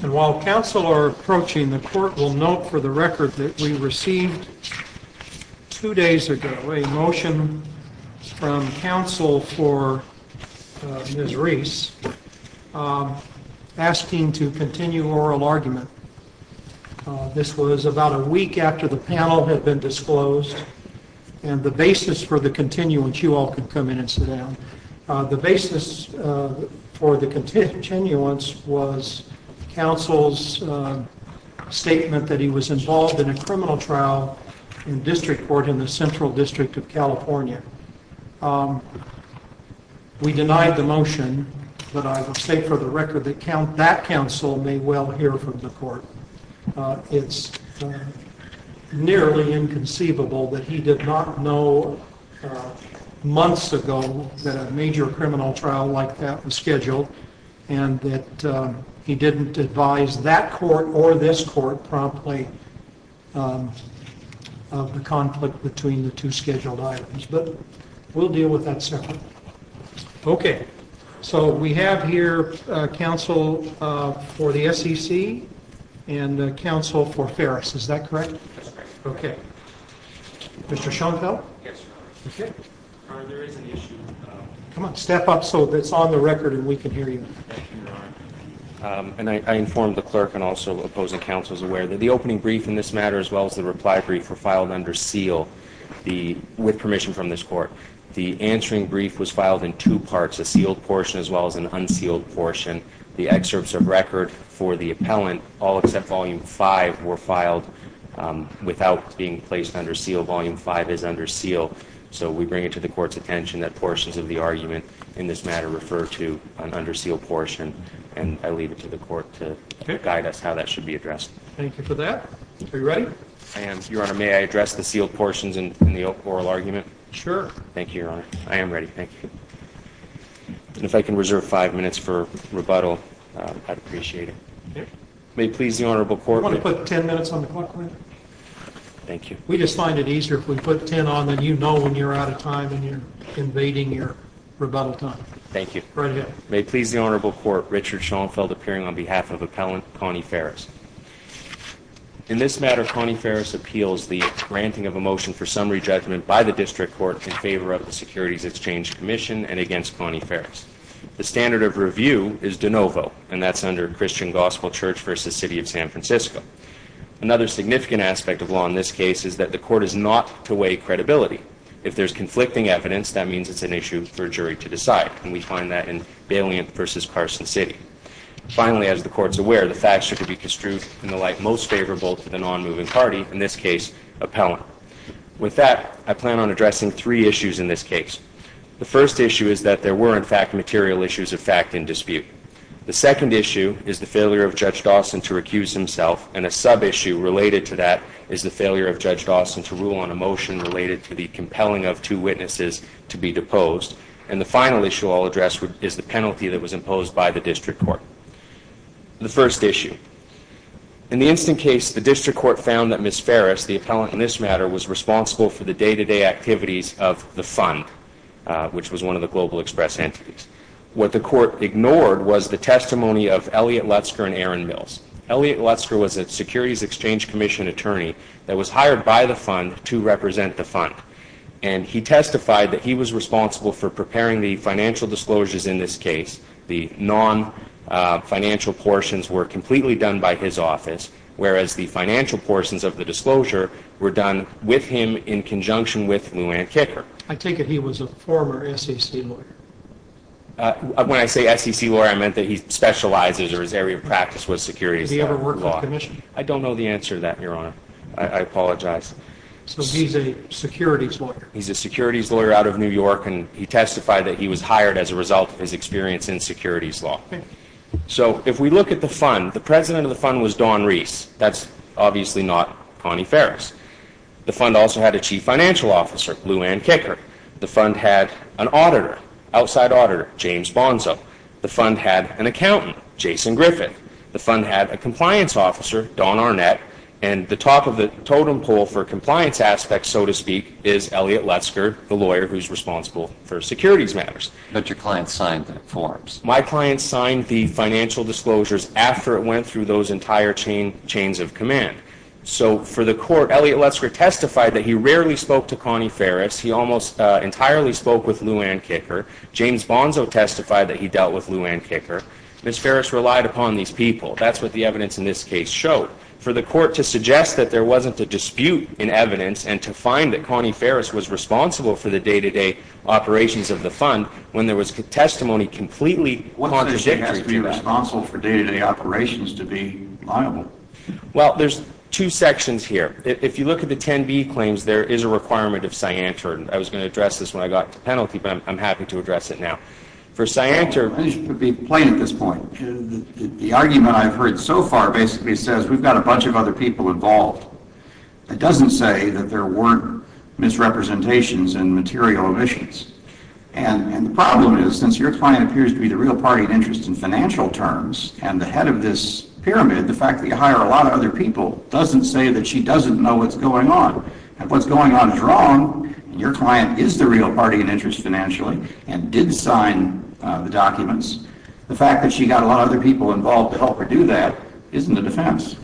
While Council are approaching, the Court will note for the record that we received two days ago a motion from Council for Ms. Reese asking to continue oral argument. This was about a week after the panel had been disclosed and the basis for the continuance, you all can come in and sit down. The basis for the continuance was Council's statement that he was involved in a criminal trial in District Court in the Central District of California. We denied the motion, but I will state for the record that that Council may well hear from the Court. It's nearly inconceivable that he did not know months ago that a major criminal trial like that was scheduled and that he didn't advise that Court or this Court promptly of the conflict between the two scheduled items, but we'll deal with that separately. Okay, so we have here Council for the SEC and Council for Ferris, is that correct? Okay. Mr. Schoenfeld? Come on, step up so it's on the record and we can hear you. And I informed the clerk and also opposing Council is aware that the opening brief in this matter as well as the reply brief were filed under seal with permission from this Court. The answering brief was filed in two parts, a sealed portion as well as an unsealed portion. The excerpts of record for the appellant, all except volume 5, were filed without being placed under seal. Volume 5 is under seal, so we bring it to the Court's attention that portions of the argument in this matter refer to an under seal portion and I leave it to the Court to guide us how that should be addressed. Thank you for your time, Your Honor. May I address the sealed portions in the oral argument? Sure. Thank you, Your Honor. I am ready, thank you. And if I can reserve five minutes for rebuttal, I'd appreciate it. May it please the Honorable Court... Do you want to put ten minutes on the clock, please? Thank you. We just find it easier if we put ten on, then you know when you're out of time and you're invading your rebuttal time. Thank you. Right ahead. May it please the Honorable Court, Richard Schoenfeld appearing on behalf of Connie Ferris appeals the granting of a motion for summary judgment by the District Court in favor of the Securities Exchange Commission and against Connie Ferris. The standard of review is de novo and that's under Christian Gospel Church versus City of San Francisco. Another significant aspect of law in this case is that the Court is not to weigh credibility. If there's conflicting evidence, that means it's an issue for a jury to decide and we find that in Baliant versus Carson City. Finally, as the Court's aware, the facts are to be construed in the light most favorable to the non-moving party, in this case, appellant. With that, I plan on addressing three issues in this case. The first issue is that there were, in fact, material issues of fact in dispute. The second issue is the failure of Judge Dawson to recuse himself and a sub-issue related to that is the failure of Judge Dawson to rule on a motion related to the compelling of two witnesses to be deposed. And the final issue I'll address is the penalty that was imposed by the District Court. The first issue, in the instant case, the District Court found that Ms. Ferris, the appellant in this matter, was responsible for the day-to-day activities of the fund, which was one of the Global Express entities. What the court ignored was the testimony of Elliot Lutzker and Aaron Mills. Elliot Lutzker was a Securities Exchange Commission attorney that was hired by the fund to represent the fund. And he testified that he was responsible for preparing the financial disclosures in this case. The non-financial portions were completely done by his office, whereas the financial portions of the disclosure were done with him in conjunction with Lou Anne Kicker. I take it he was a former SEC lawyer. When I say SEC lawyer, I meant that he specializes or his area of practice was securities law. Did he ever work for the commission? I don't know the answer to that, Your Honor. I apologize. So he's a securities lawyer. He's a securities lawyer out of New York, and he testified that he was hired as a result of his experience in securities law. So if we look at the fund, the president of the fund was Don Reese. That's obviously not Connie Ferris. The fund also had a chief financial officer, Lou Anne Kicker. The fund had an auditor, outside auditor, James Bonzo. The fund had an accountant, Jason Griffith. The fund had a compliance officer, Don Arnett. And the top of the totem pole for compliance aspects, so to speak, is Elliot Lutzker, the lawyer who's responsible for securities matters. But your client signed the forms. My client signed the financial disclosures after it went through those entire chains of command. So for the court, Elliot Lutzker testified that he rarely spoke to Connie Ferris. He almost entirely spoke with Lou Anne Kicker. James Bonzo testified that he dealt with Lou Anne Kicker. Ms. Ferris relied upon these people. That's what the evidence in this case showed. For the court to suggest that there wasn't a dispute in evidence and to find that Connie Ferris was responsible for the day-to-day operations of the fund when there was testimony completely contradictory to that. What makes it has to be responsible for day-to-day operations to be liable? Well, there's two sections here. If you look at the 10B claims, there is a requirement of Cianter. And I was going to address this when I got to penalty, but I'm happy to address it now. For Cianter, it should be plain at this point, the argument I've heard so far basically says we've got a bunch of other people involved. It doesn't say that there weren't misrepresentations and material omissions. And the problem is since your client appears to be the real party in interest in financial terms and the head of this pyramid, the fact that you hire a lot of other people doesn't say that she doesn't know what's going on. If what's going on is wrong and your client is the real party in interest financially and did sign the documents, the fact that she got a lot of other people involved to help her do that isn't a defense.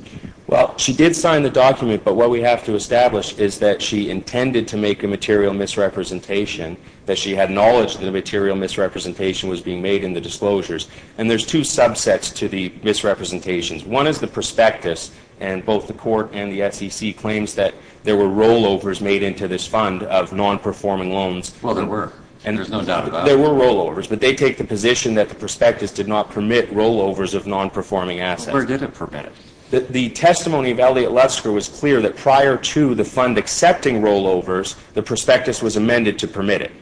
Well, she did sign the document, but what we have to establish is that she intended to make a material misrepresentation, that she had knowledge that a material misrepresentation was being made in the disclosures. And there's two subsets to the misrepresentations. One is the prospectus and both the court and the SEC claims that there were rollovers made into this fund of non-performing loans. Well, there were. And there's no doubt about it. There were rollovers, but they take the position that the prospectus did not permit rollovers of non-performing assets. Well, where did it permit it? The testimony of Elliot Lutsker was clear that prior to the fund accepting rollovers, the prospectus was amended to permit it.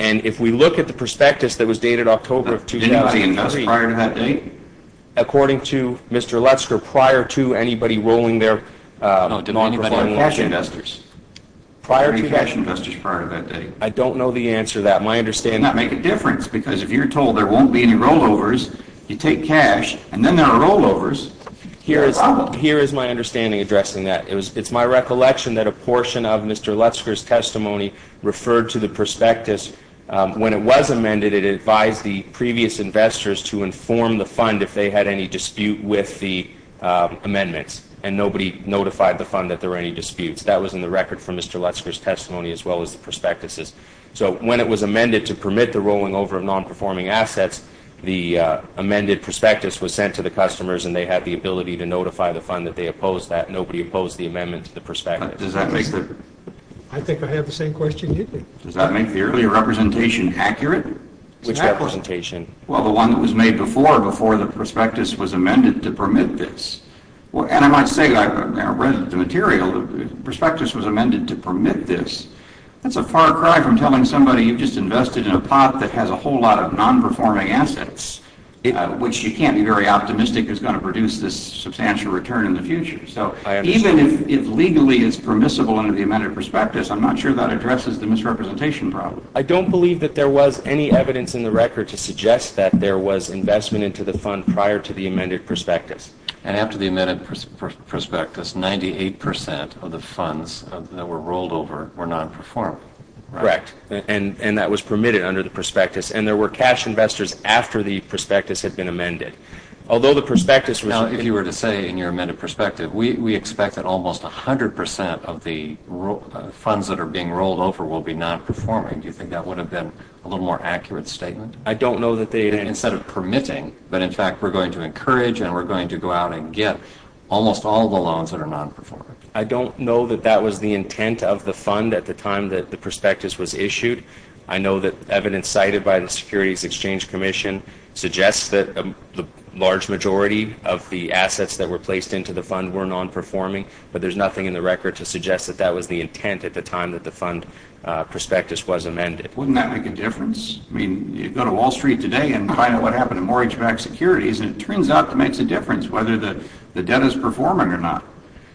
And if we look at the prospectus that was dated October of 2003. Did anybody invest prior to that date? According to Mr. Lutsker, prior to anybody rolling their non-performing cash investors. Prior to that. Prior to cash investors prior to that date. I don't know the answer to that. My understanding. That make a difference because if you're told there won't be any rollovers, you take cash and then there are rollovers. Here is my understanding addressing that. It's my recollection that a portion of Mr. Lutsker's testimony referred to the prospectus. When it was amended, it advised the previous investors to inform the fund if they had any dispute with the amendments. And nobody notified the fund that there were any disputes. That was in the record from Mr. Lutsker's testimony as well as the prospectus'. So when it was amended to permit the rolling over of non-performing assets, the amended prospectus was sent to the customers and they had the ability to notify the fund that they opposed that. Nobody opposed the amendment to the prospectus. Does that make the? I think I have the same question you do. Does that make the earlier representation accurate? Which representation? Well, the one that was made before, before the prospectus was amended to permit this. And I might say, I read the material, the prospectus was amended to permit this. That's a far cry from telling somebody you just invested in a pot that has a whole lot of non-performing assets, which you can't be very optimistic is going to produce this substantial return in the future. So even if legally it's permissible under the amended prospectus, I'm not sure that addresses the misrepresentation problem. I don't believe that there was any evidence in the record to suggest that there was investment into the fund prior to the amended prospectus. And after the amended prospectus, 98% of the funds that were rolled over were non-performed. Correct. And that was permitted under the prospectus. And there were cash investors after the prospectus had been amended. Although the prospectus was. Now, if you were to say in your amended perspective, we expect that almost 100% of the funds that are being rolled over will be non-performing. Do you think that would have been a little more accurate statement? I don't know that they. Instead of permitting, but in fact, we're going to encourage and we're going to go out and get almost all the loans that are non-performing. I don't know that that was the intent of the fund at the time that the prospectus was issued. I know that evidence cited by the Securities Exchange Commission suggests that the large majority of the assets that were placed into the fund were non-performing. But there's nothing in the record to suggest that that was the intent at the time that the fund prospectus was amended. Wouldn't that make a difference? I mean, you go to Wall Street today and find out what happened to mortgage-backed securities and it turns out it makes a difference whether the debt is performing or not.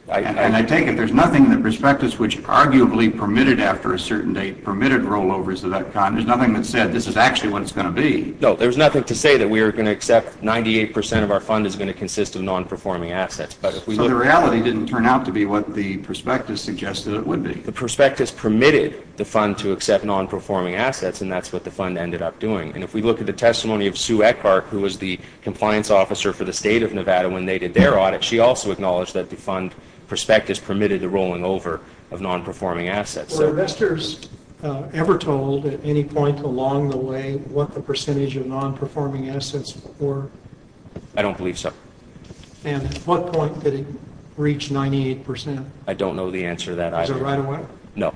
And I take it there's nothing in the prospectus which arguably permitted after a certain date permitted rollovers of that kind. There's nothing that said this is actually what it's going to be. No, there's nothing to say that we are going to accept 98% of our fund is going to consist of non-performing assets. So the reality didn't turn out to be what the prospectus suggested it would be. The prospectus permitted the fund to accept non-performing assets and that's what the fund ended up doing. And if we look at the testimony of Sue Eckhardt who was the compliance officer for the state of Nevada when they did their audit, she also acknowledged that the fund prospectus permitted the rolling over of non-performing assets. Were investors ever told at any point along the way what the percentage of non-performing assets were? I don't believe so. And at what point did it reach 98%? I don't know the answer to that either. Was it right away? No,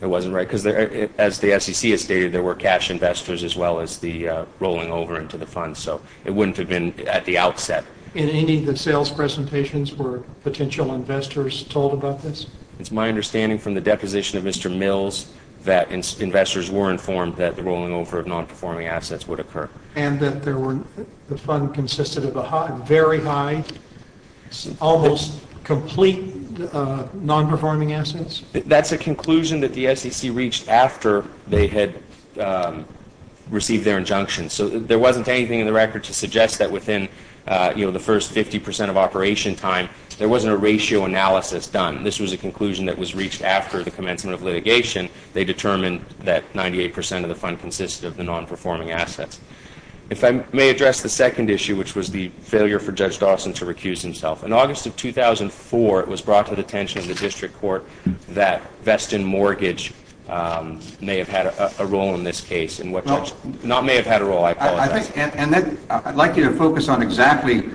it wasn't right because as the SEC has stated there were cash investors as well as the rolling over into the fund so it wouldn't have been at the outset. In any of the sales presentations were potential investors told about this? It's my understanding from the deposition of Mr. Mills that investors were informed that the rolling over of non-performing assets would occur. And that the fund consisted of a very high, almost complete non-performing assets? That's a conclusion that the SEC reached after they had received their injunction. So there wasn't anything in the record to suggest that within, you know, the first 50% of operation time there wasn't a ratio analysis done. This was a conclusion that was reached after the commencement of litigation. They determined that 98% of the fund consisted of the non-performing assets. If I may address the second issue which was the failure for Judge Dawson to recuse himself. In August of 2004 it was brought to the attention of the district court that Veston Mortgage may have had a role in this case. And what Judge, may have had a role I apologize. And I'd like you to focus on exactly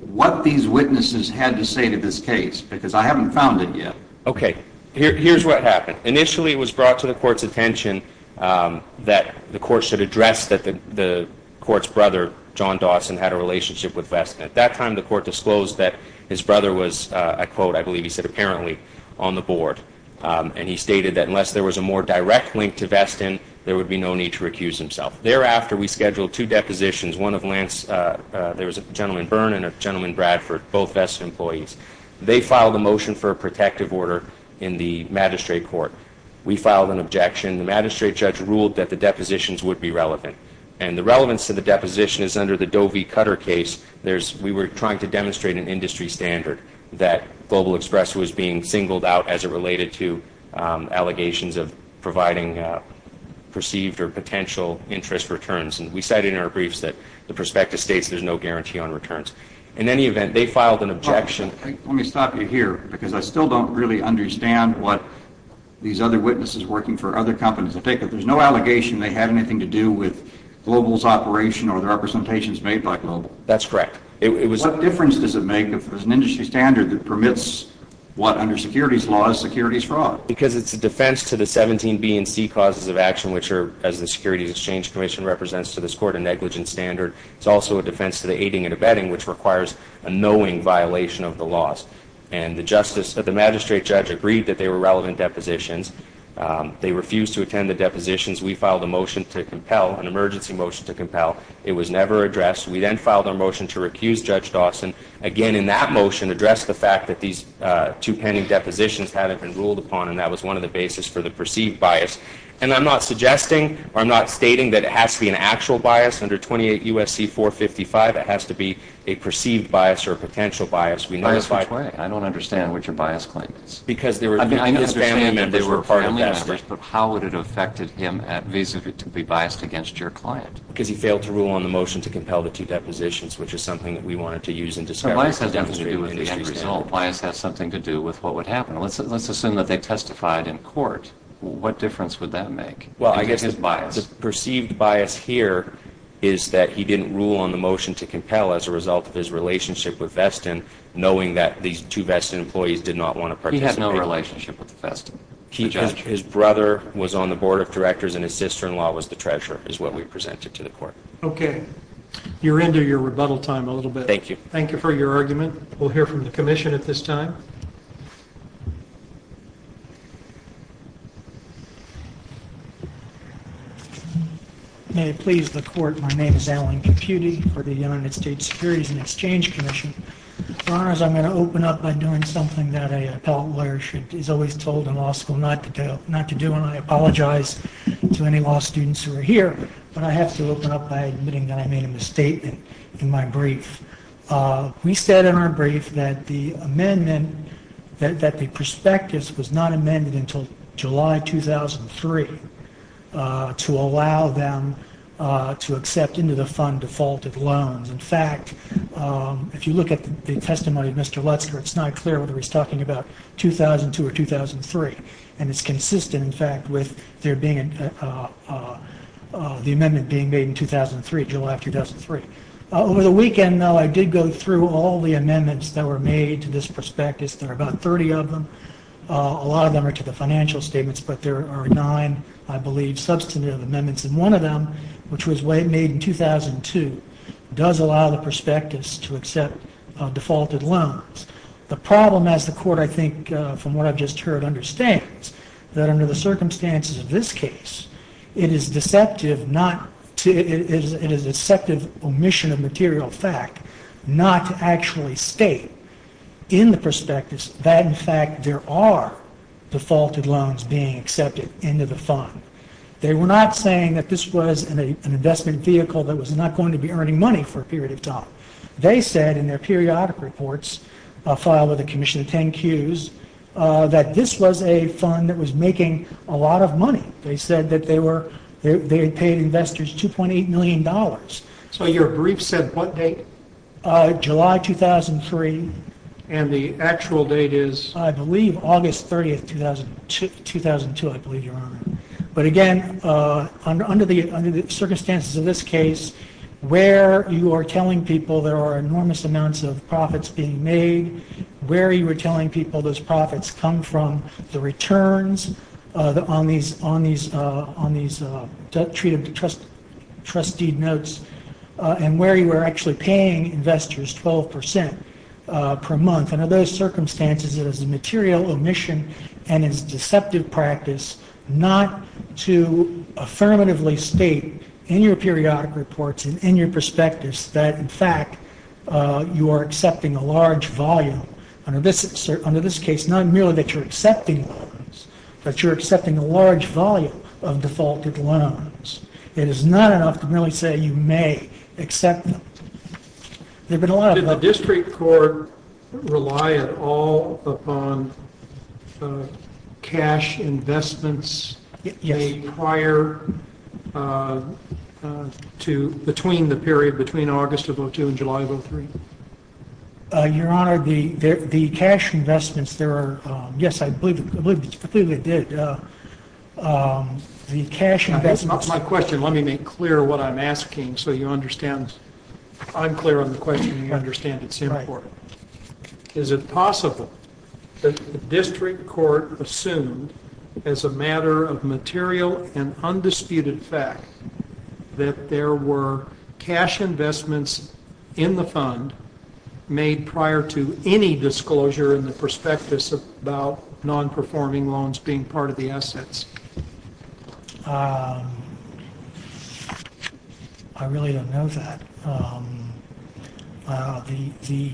what these witnesses had to say to this case because I haven't found it yet. Okay, here's what happened. Initially it was brought to the court's attention that the court should address that the court's brother John Dawson had a relationship with Veston. At that time the court disclosed that his brother was, I quote, I believe he said apparently, on the board. And he stated that unless there was a more direct link to Veston, there would be no need to recuse himself. Thereafter we scheduled two depositions, one of Lance, there was a gentleman Byrne and a gentleman Bradford, both Veston employees. They filed a motion for a protective order in the magistrate court. We filed an objection. The magistrate judge ruled that the depositions would be relevant. And the relevance to the deposition is under the Doe v. Cutter case. We were trying to demonstrate an industry standard that Global Express was being singled out as it related to allegations of providing perceived or potential interest returns. And we said in our briefs that the perspective states there's no guarantee on returns. In any event, they filed an objection. Let me stop you here because I still don't really understand what these other witnesses working for other companies, I take it there's no allegation they had anything to do with Global's operation or the representations made by Global. That's correct. It was. What difference does it make if there's an industry standard that permits what under securities laws, securities fraud? Because it's a defense to the 17 B and C causes of action which are as the Securities Exchange Commission represents to this court a negligence standard. It's also a defense to the aiding and abetting which requires a knowing violation of the laws. And the magistrate judge agreed that they were relevant depositions. They refused to attend the depositions. We filed a motion to compel, an emergency motion to compel. It was never addressed. We then filed a motion to recuse Judge Dawson. Again, in that motion addressed the fact that these two pending depositions haven't been ruled upon and that was one of the basis for the perceived bias. And I'm not suggesting or I'm not stating that it has to be an actual bias. Under 28 U.S.C. 455, it has to be a perceived bias or a potential bias. We know the fact. By which way? I don't understand what your bias claim is. Because there were. I mean, I understand that they were family members. But how would it have affected him vis-a-vis to be biased against your client? Because he failed to rule on the motion to compel the two depositions, which is something that we wanted to use in discovery. So bias has nothing to do with the end result. Bias has something to do with what would happen. Let's assume that they testified in court. What difference would that make? Well, I guess the perceived bias here is that he didn't rule on the motion to compel as a result of his relationship with Veston, knowing that these two Veston employees did not want to participate. His brother was on the board of directors and his sister-in-law was the treasurer, is what we presented to the court. Okay. You're into your rebuttal time a little bit. Thank you. Thank you for your argument. We'll hear from the commission at this time. May it please the court, my name is Alan Caputi for the United States Securities and Exchange Commission. For honors, I'm going to open up by doing something that an appellate lawyer is always told in law school not to do. I apologize to any law students who are here, but I have to open up by admitting that I made a misstatement in my brief. We said in our brief that the amendment, that the prospectus was not amended until July 2003 to allow them to accept into the fund defaulted loans. In fact, if you look at the testimony of Mr. Lutzker, it's not clear whether he's talking about 2002 or 2003. And it's consistent, in fact, with the amendment being made in 2003, July of 2003. Over the weekend, though, I did go through all the amendments that were made to this prospectus, there are about 30 of them. A lot of them are to the financial statements, but there are nine, I believe, substantive amendments. And one of them, which was made in 2002, does allow the prospectus to accept defaulted loans. The problem as the court, I think, from what I've just heard, understands that under the circumstances of this case, it is deceptive not to, it is a deceptive omission of material fact not to actually state in the prospectus that in fact there are defaulted loans being accepted into the fund. They were not saying that this was an investment vehicle that was not going to be earning money for a period of time. They said in their periodic reports, filed with the Commission of 10 Qs, that this was a fund that was making a lot of money. They said that they were, they paid investors $2.8 million. So your brief said what date? July 2003. And the actual date is? I believe August 30, 2002, I believe, Your Honor. But again, under the circumstances of this case, where you are telling people there are enormous amounts of profits being made, where you were telling people those profits come from, the returns on these, on these, on these trustee notes, and where you were actually paying investors 12% per month. And under those circumstances, it is a material omission and it's deceptive practice not to affirmatively state in your periodic reports and in your prospectus that in fact you are accepting a large volume. Under this, under this case, not merely that you're accepting loans, but you're accepting a large volume of defaulted loans. It is not enough to really say you may accept them. There have been a lot of- Does the district court rely at all upon cash investments made prior to, between the period, between August of 2002 and July of 2003? Your Honor, the cash investments, there are, yes, I believe, I believe it did. The cash investments- That's not my question. Let me make clear what I'm asking so you understand. I'm clear on the question and you understand it's important. Is it possible that the district court assumed as a matter of material and undisputed fact that there were cash investments in the fund made prior to any disclosure in the prospectus about non-performing loans being part of the assets? I really don't know that. The,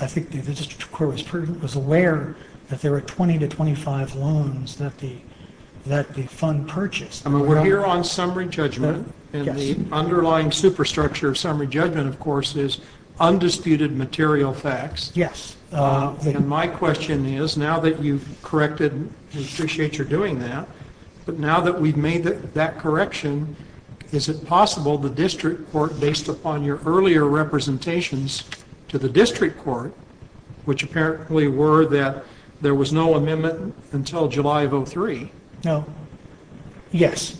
I think the district court was aware that there were 20 to 25 loans that the fund purchased. I mean, we're here on summary judgment and the underlying superstructure of summary judgment, of course, is undisputed material facts. Yes. And my question is, now that you've corrected, we appreciate your doing that, but now that we've made that correction, is it possible the district court, based upon your earlier representations to the district court, which apparently were that there was no amendment until July of 2003- No. Yes.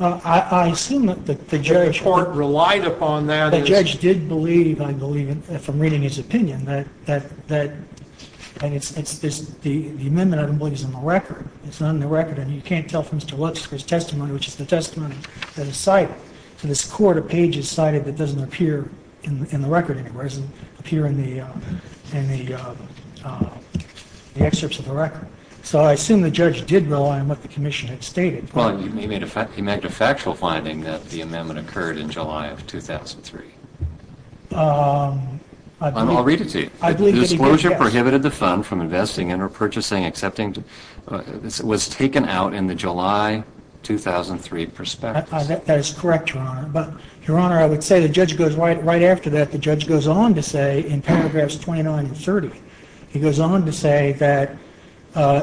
I assume that the judge- The district court relied upon that as- The judge did believe, I believe, from reading his opinion that, and it's, the amendment I don't believe is on the record. It's not on the record and you can't tell from Mr. Lutzker's testimony, which is the testimony that is cited. To this court, a page is cited that doesn't appear in the record anywhere. It doesn't appear in the excerpts of the record. So I assume the judge did rely on what the commission had stated. Well, he made a factual finding that the amendment occurred in July of 2003. I'll read it to you. The disclosure prohibited the fund from investing in or purchasing, accepting, was taken out in the July 2003 prospectus. That is correct, Your Honor. But, Your Honor, I would say the judge goes right after that, the judge goes on to say, in paragraphs 29 and 30, he goes on to say that,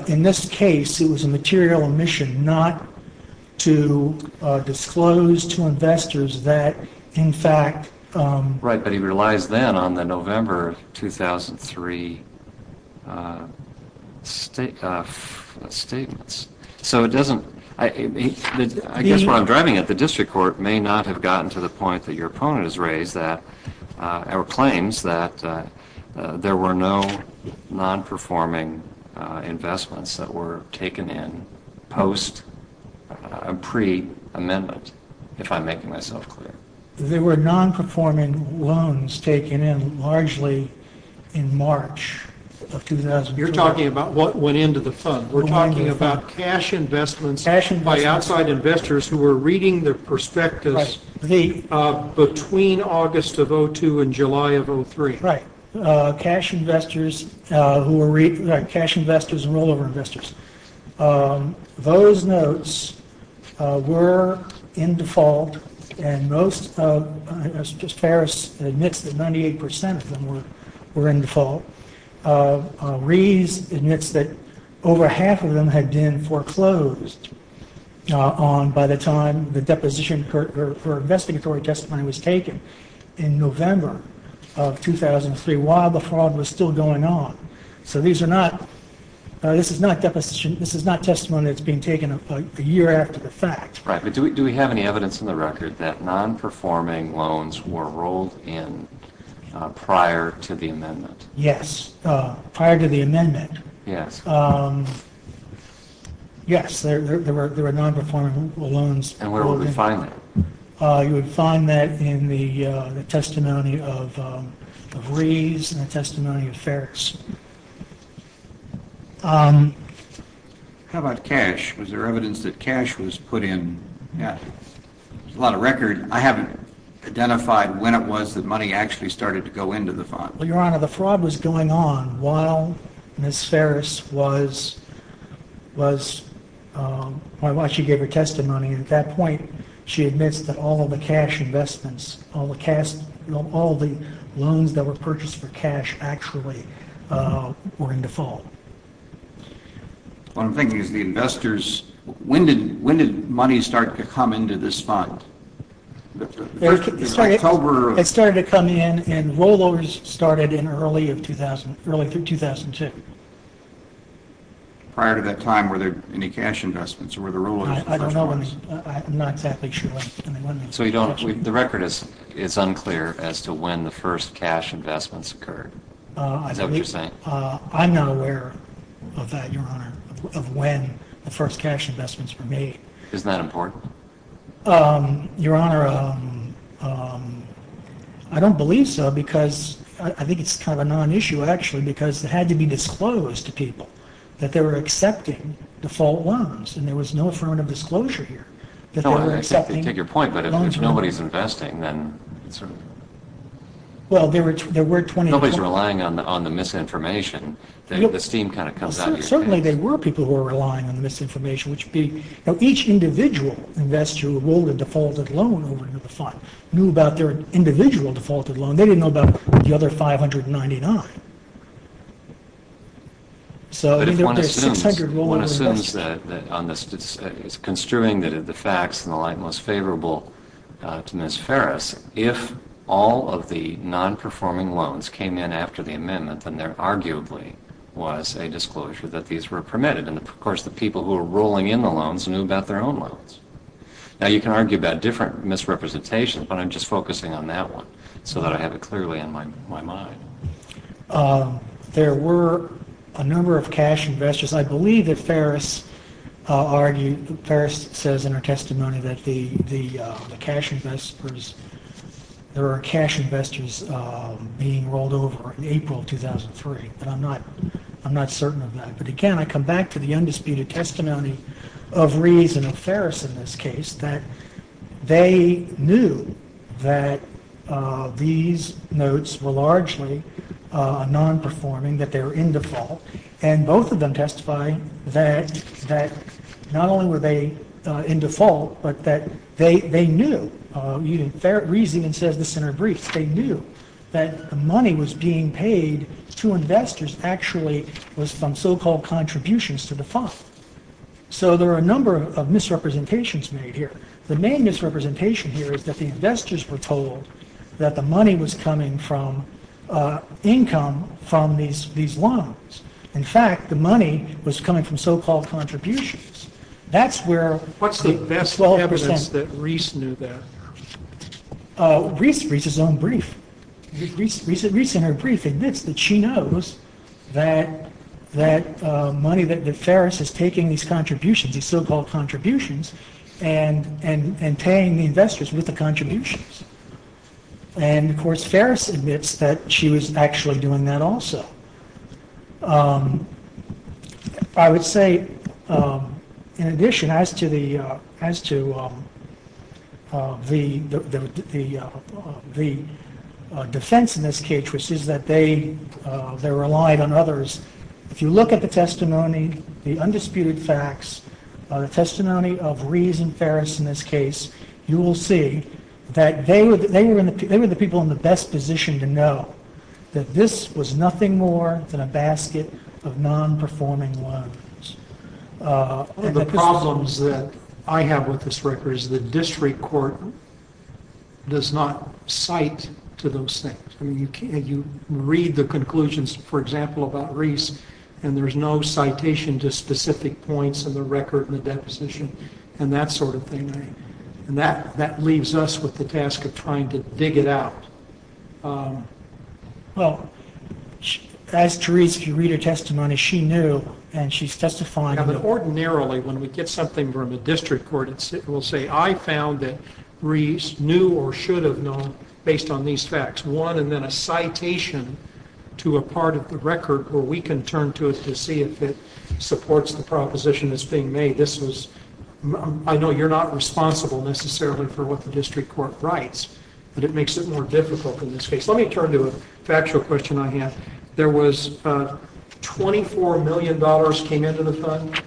in this case, it was a material omission not to disclose to investors that, in fact. Right, but he relies then on the November 2003 statements. So it doesn't, I guess what I'm driving at, the district court may not have gotten to the point that your opponent has raised that, or claims that there were no non-performing investments that were taken in post pre-amendment, if I'm making myself clear. There were non-performing loans taken in largely in March of 2003. You're talking about what went into the fund. We're talking about cash investments by outside investors who were reading the prospectus between August of 2002 and July of 2003. Right, cash investors who were reading, right, cash investors and rollover investors. Those notes were in default, and most of, just Ferris admits that 98% of them were in default. Rees admits that over half of them had been foreclosed on by the time the deposition for investigatory testimony was taken in November of 2003, while the fraud was still going on. So these are not, this is not deposition, this is not testimony that's being taken a year after the fact. Right, but do we have any evidence in the record that non-performing loans were rolled in prior to the amendment? Yes, prior to the amendment. Yes. Yes, there were non-performing loans. And where would we find that? You would find that in the testimony of Rees and the testimony of Ferris. How about cash? Was there evidence that cash was put in? Yeah, there's a lot of record. I haven't identified when it was that money actually started to go into the fund. Well, Your Honor, the fraud was going on while Ms. Ferris was, while she gave her testimony, and at that point she admits that all of the cash investments, all the loans that were purchased for cash actually were in default. What I'm thinking is the investors, when did money start to come into this fund? It started to come in, and rollovers started in early of 2000, early of 2002. Prior to that time, were there any cash investments, or were the rollovers the first ones? I don't know, I'm not exactly sure. So you don't, the record is unclear as to when the first cash investments occurred? Is that what you're saying? I'm not aware of that, Your Honor, of when the first cash investments were made. Isn't that important? Your Honor, I don't believe so, because I think it's kind of a non-issue actually, because it had to be disclosed to people that they were accepting default loans, and there was no affirmative disclosure here. I take your point, but if nobody's investing, then it's sort of... Well, there were 20... Nobody's relying on the misinformation. The steam kind of comes out of your case. Certainly there were people who were relying on the misinformation, which being each individual investor who rolled a defaulted loan over into the fund knew about their individual defaulted loan. They didn't know about the other 599. So there were 600 rollover investors. But if one assumes, one assumes that on this, construing the facts in the light most favorable to Ms. Ferris, if all of the non-performing loans came in after the amendment, then there arguably was a disclosure that these were permitted. And of course, the people who were rolling in the loans knew about their own loans. Now, you can argue about different misrepresentations, but I'm just focusing on that one so that I have it clearly in my mind. There were a number of cash investors. I believe that Ferris argued... Ferris says in her testimony that the cash investors... There were cash investors being rolled over in April of 2003, but I'm not certain of that. But again, I come back to the undisputed testimony of Rees and of Ferris in this case, that they knew that these notes were largely non-performing, that they were in default. And both of them testify that not only were they in default, but that they knew... Rees even says this in her brief, they knew that the money was being paid to investors actually was from so-called contributions to the fund. So there are a number of misrepresentations made here. The main misrepresentation here is that the investors were told that the money was coming from income from these loans. In fact, the money was coming from so-called contributions. That's where... What's the best evidence that Rees knew that? Rees' own brief. Rees in her brief admits that she knows that money... That Ferris is taking these contributions, these so-called contributions, and paying the investors with the contributions. And of course, Ferris admits that she was actually doing that also. I would say, in addition, as to the defense in this case, which is that they relied on others, if you look at the testimony, the undisputed facts, the testimony of Rees and Ferris in this case, you will see that they were the people in the best position to know that this was nothing more than a basket of non-performing loans. The problems that I have with this record is that district court does not cite to those things. You read the conclusions, for example, about Rees, and there's no citation to specific points in the record and the deposition and that sort of thing. And that leaves us with the task of trying to dig it out. Well, as Therese, if you read her testimony, she knew and she's testifying... Now, ordinarily, when we get something from a district court, it will say, I found that Rees knew or should have known based on these facts. One, and then a citation to a part of the record where we can turn to it to see if it supports the proposition that's being made. I know you're not responsible necessarily for what the district court writes, but it makes it more difficult in this case. Let me turn to a factual question I have. There was $24 million came into the fund?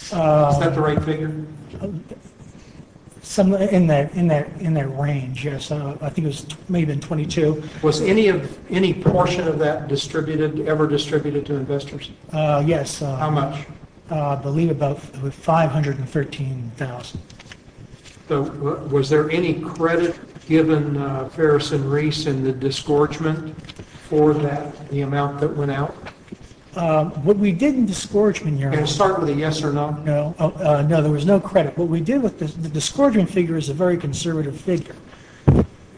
Is that the right figure? In that range, yes. I think it was maybe $22. Was any portion of that ever distributed to investors? Yes. How much? I believe about $513,000. Was there any credit given Ferris and Rees in the disgorgement for that, the amount that went out? What we did in disgorgement... Can I start with a yes or no? No, there was no credit. What we did with the disgorgement figure is a very conservative figure.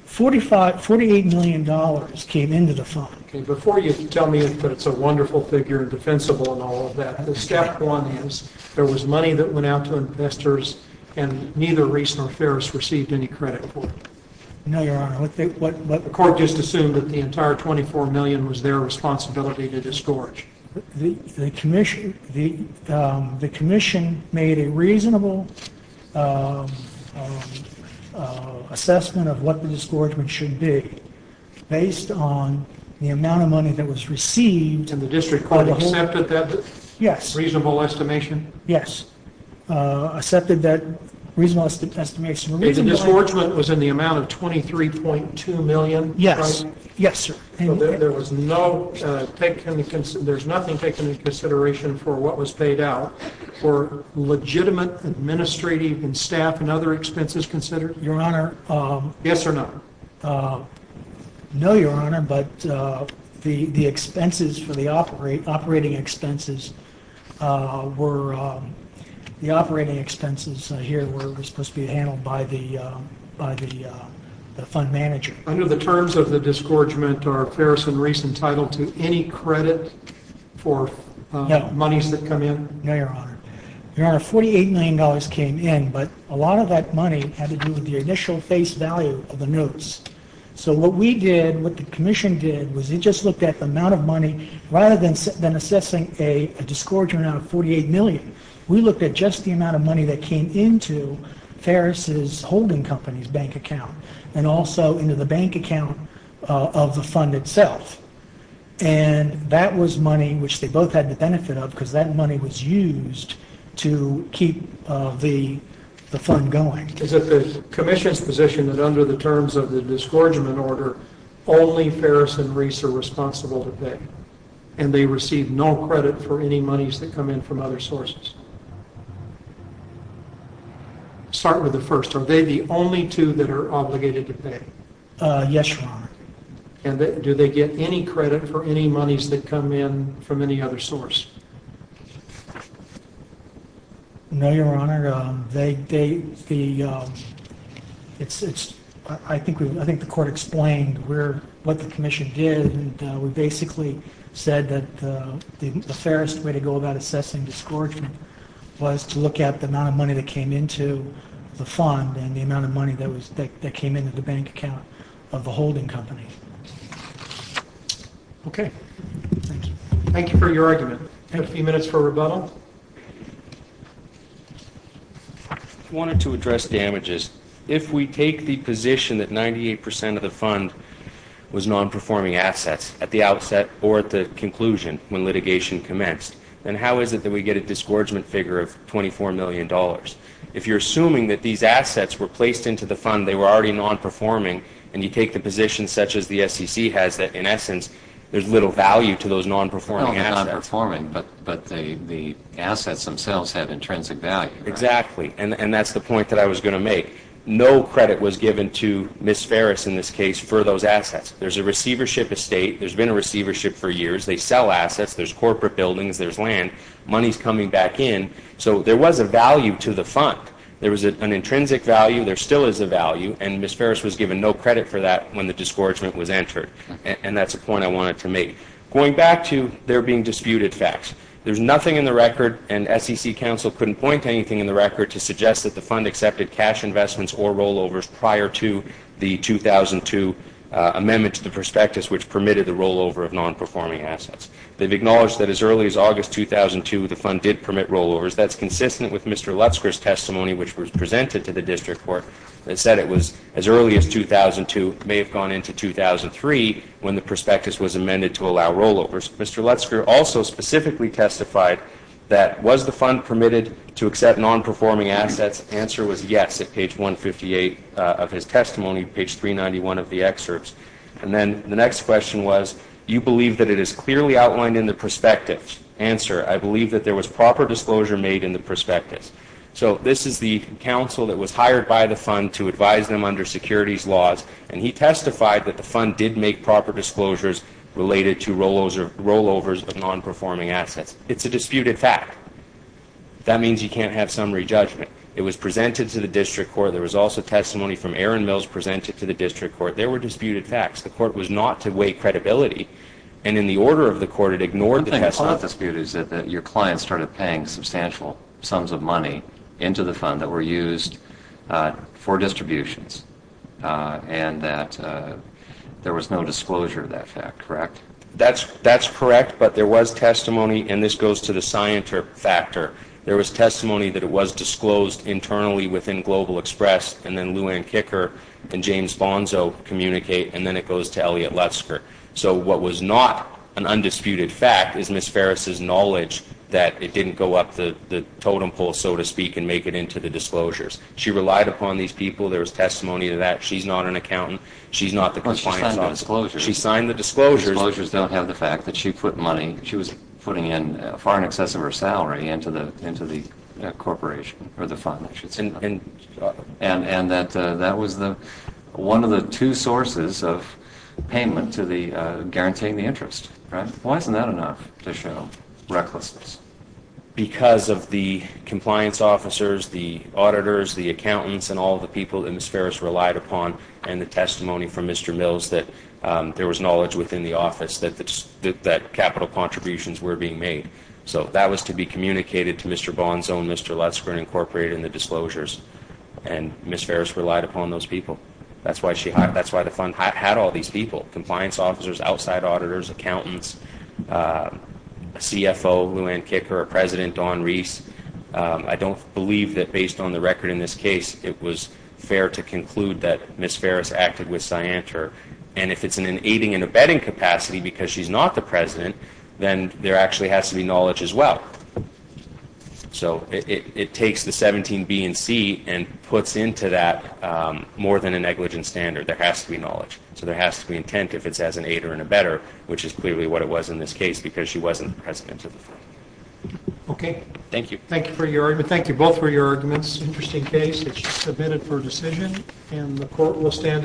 $48 million came into the fund. Before you tell me that it's a wonderful figure and defensible and all of that, the step one is there was money that went out to investors and neither Rees nor Ferris received any credit for it. No, Your Honor. The court just assumed that the entire $24 million was their responsibility to disgorge. The commission made a reasonable assessment of what the disgorgement should be based on the amount of money that was received... And the district court accepted that? Yes. Reasonable estimation? Yes. Accepted that reasonable estimation. The disgorgement was in the amount of $23.2 million? Yes. Yes, sir. There was nothing taken into consideration for what was paid out for legitimate administrative and staff and other expenses considered? Your Honor... Yes or no? No, Your Honor. But the operating expenses here were supposed to be handled by the fund manager. Under the terms of the disgorgement, are Ferris and Rees entitled to any credit for monies that come in? No, Your Honor. Your Honor, $48 million came in, but a lot of that money had to do with the initial face value of the notes. So what we did, what the commission did, was it just looked at the amount of money... Rather than assessing a disgorgement out of $48 million, we looked at just the amount of money that came into Ferris' holding company's bank account and also into the bank account of the fund itself. And that was money which they both had the benefit of because that money was used to keep the fund going. Is it the commission's position that under the terms of the disgorgement order only Ferris and Rees are responsible to pay and they receive no credit for any monies that come in from other sources? Start with the first. Are they the only two that are obligated to pay? Yes, Your Honor. And do they get any credit for any monies that come in from any other source? No, Your Honor. I think the court explained what the commission did and we basically said that the fairest way to go about assessing disgorgement was to look at the amount of money that came into the fund and the amount of money that came into the bank account of the holding company. Okay. Thank you. Thank you for your argument. We have a few minutes for rebuttal. I wanted to address damages. If we take the position that 98% of the fund was non-performing assets at the outset or at the conclusion when litigation commenced, then how is it that we get a disgorgement figure of $24 million? If you're assuming that these assets were placed into the fund and they were already non-performing and you take the position such as the SEC has that in essence there's little value to those non-performing assets. Well, they're non-performing, but the assets themselves have intrinsic value. Exactly. And that's the point that I was going to make. No credit was given to Ms. Farris in this case for those assets. There's a receivership estate. There's been a receivership for years. They sell assets. There's corporate buildings. There's land. Money's coming back in. So there was a value to the fund. There was an intrinsic value. There still is a value. And Ms. Farris was given no credit for that when the disgorgement was entered. And that's the point I wanted to make. Going back to there being disputed facts, there's nothing in the record, and SEC counsel couldn't point to anything in the record to suggest that the fund accepted cash investments or rollovers prior to the 2002 amendment to the prospectus which permitted the rollover of non-performing assets. They've acknowledged that as early as August 2002 the fund did permit rollovers. That's consistent with Mr. Lutzker's testimony which was presented to the district court that said it was as early as 2002, may have gone into 2003 when the prospectus was amended to allow rollovers. Mr. Lutzker also specifically testified that was the fund permitted to accept non-performing assets? The answer was yes at page 158 of his testimony, page 391 of the excerpts. And then the next question was do you believe that it is clearly outlined in the prospectus? Answer, I believe that there was proper disclosure made in the prospectus. So this is the counsel that was hired by the fund to advise them under securities laws. And he testified that the fund did make proper disclosures related to rollovers of non-performing assets. It's a disputed fact. That means you can't have summary judgment. It was presented to the district court. There was also testimony from Aaron Mills presented to the district court. There were disputed facts. The court was not to weigh credibility and in the order of the court it ignored the testimony. One thing that's not disputed is that your clients started paying substantial sums of money into the fund that were used for distributions and that there was no disclosure of that fact, correct? That's correct but there was testimony and this goes to the scienter factor. There was testimony that it was disclosed internally within Global Express and then Lou Anne Kicker and James Bonzo communicate and then it goes to Elliot Lutzker. So what was not an undisputed fact is Ms. Ferris' knowledge that it didn't go up the totem pole so to speak and make it into the disclosures. She relied upon these people. There was testimony to that. She's not an accountant. She signed the disclosures. The disclosures don't have the fact that she was putting in far in excess of her salary into the corporation or the fund. And that was one of the two sources of payment to the guaranteeing the interest. Why isn't that enough to show recklessness? Because of the compliance officers the auditors, the accountants and all the people that Ms. Ferris relied upon and the testimony from Mr. Mills that there was knowledge within the office that capital contributions were being made. So that was to be communicated to Mr. Bonzo and Mr. Lutzker and incorporated in the disclosures and Ms. Ferris relied upon those people. That's why the fund had all these people compliance officers, outside auditors, accountants CFO, Lou Anne Kicker, President Don Rees I don't believe that based on the record in this case it was fair to conclude that Ms. Ferris acted with Scienter and if it's in an aiding and abetting capacity because she's not the President then there actually has to be knowledge as well. So it takes the 17 B and C and puts into that more than a negligent standard. There has to be knowledge. So there has to be intent if it's as an aid or an abetter which is clearly what it was in this case because she wasn't the President of the Fund. Thank you. Thank you both for your arguments. Interesting case. It's submitted for decision and the Court will stand adjourned.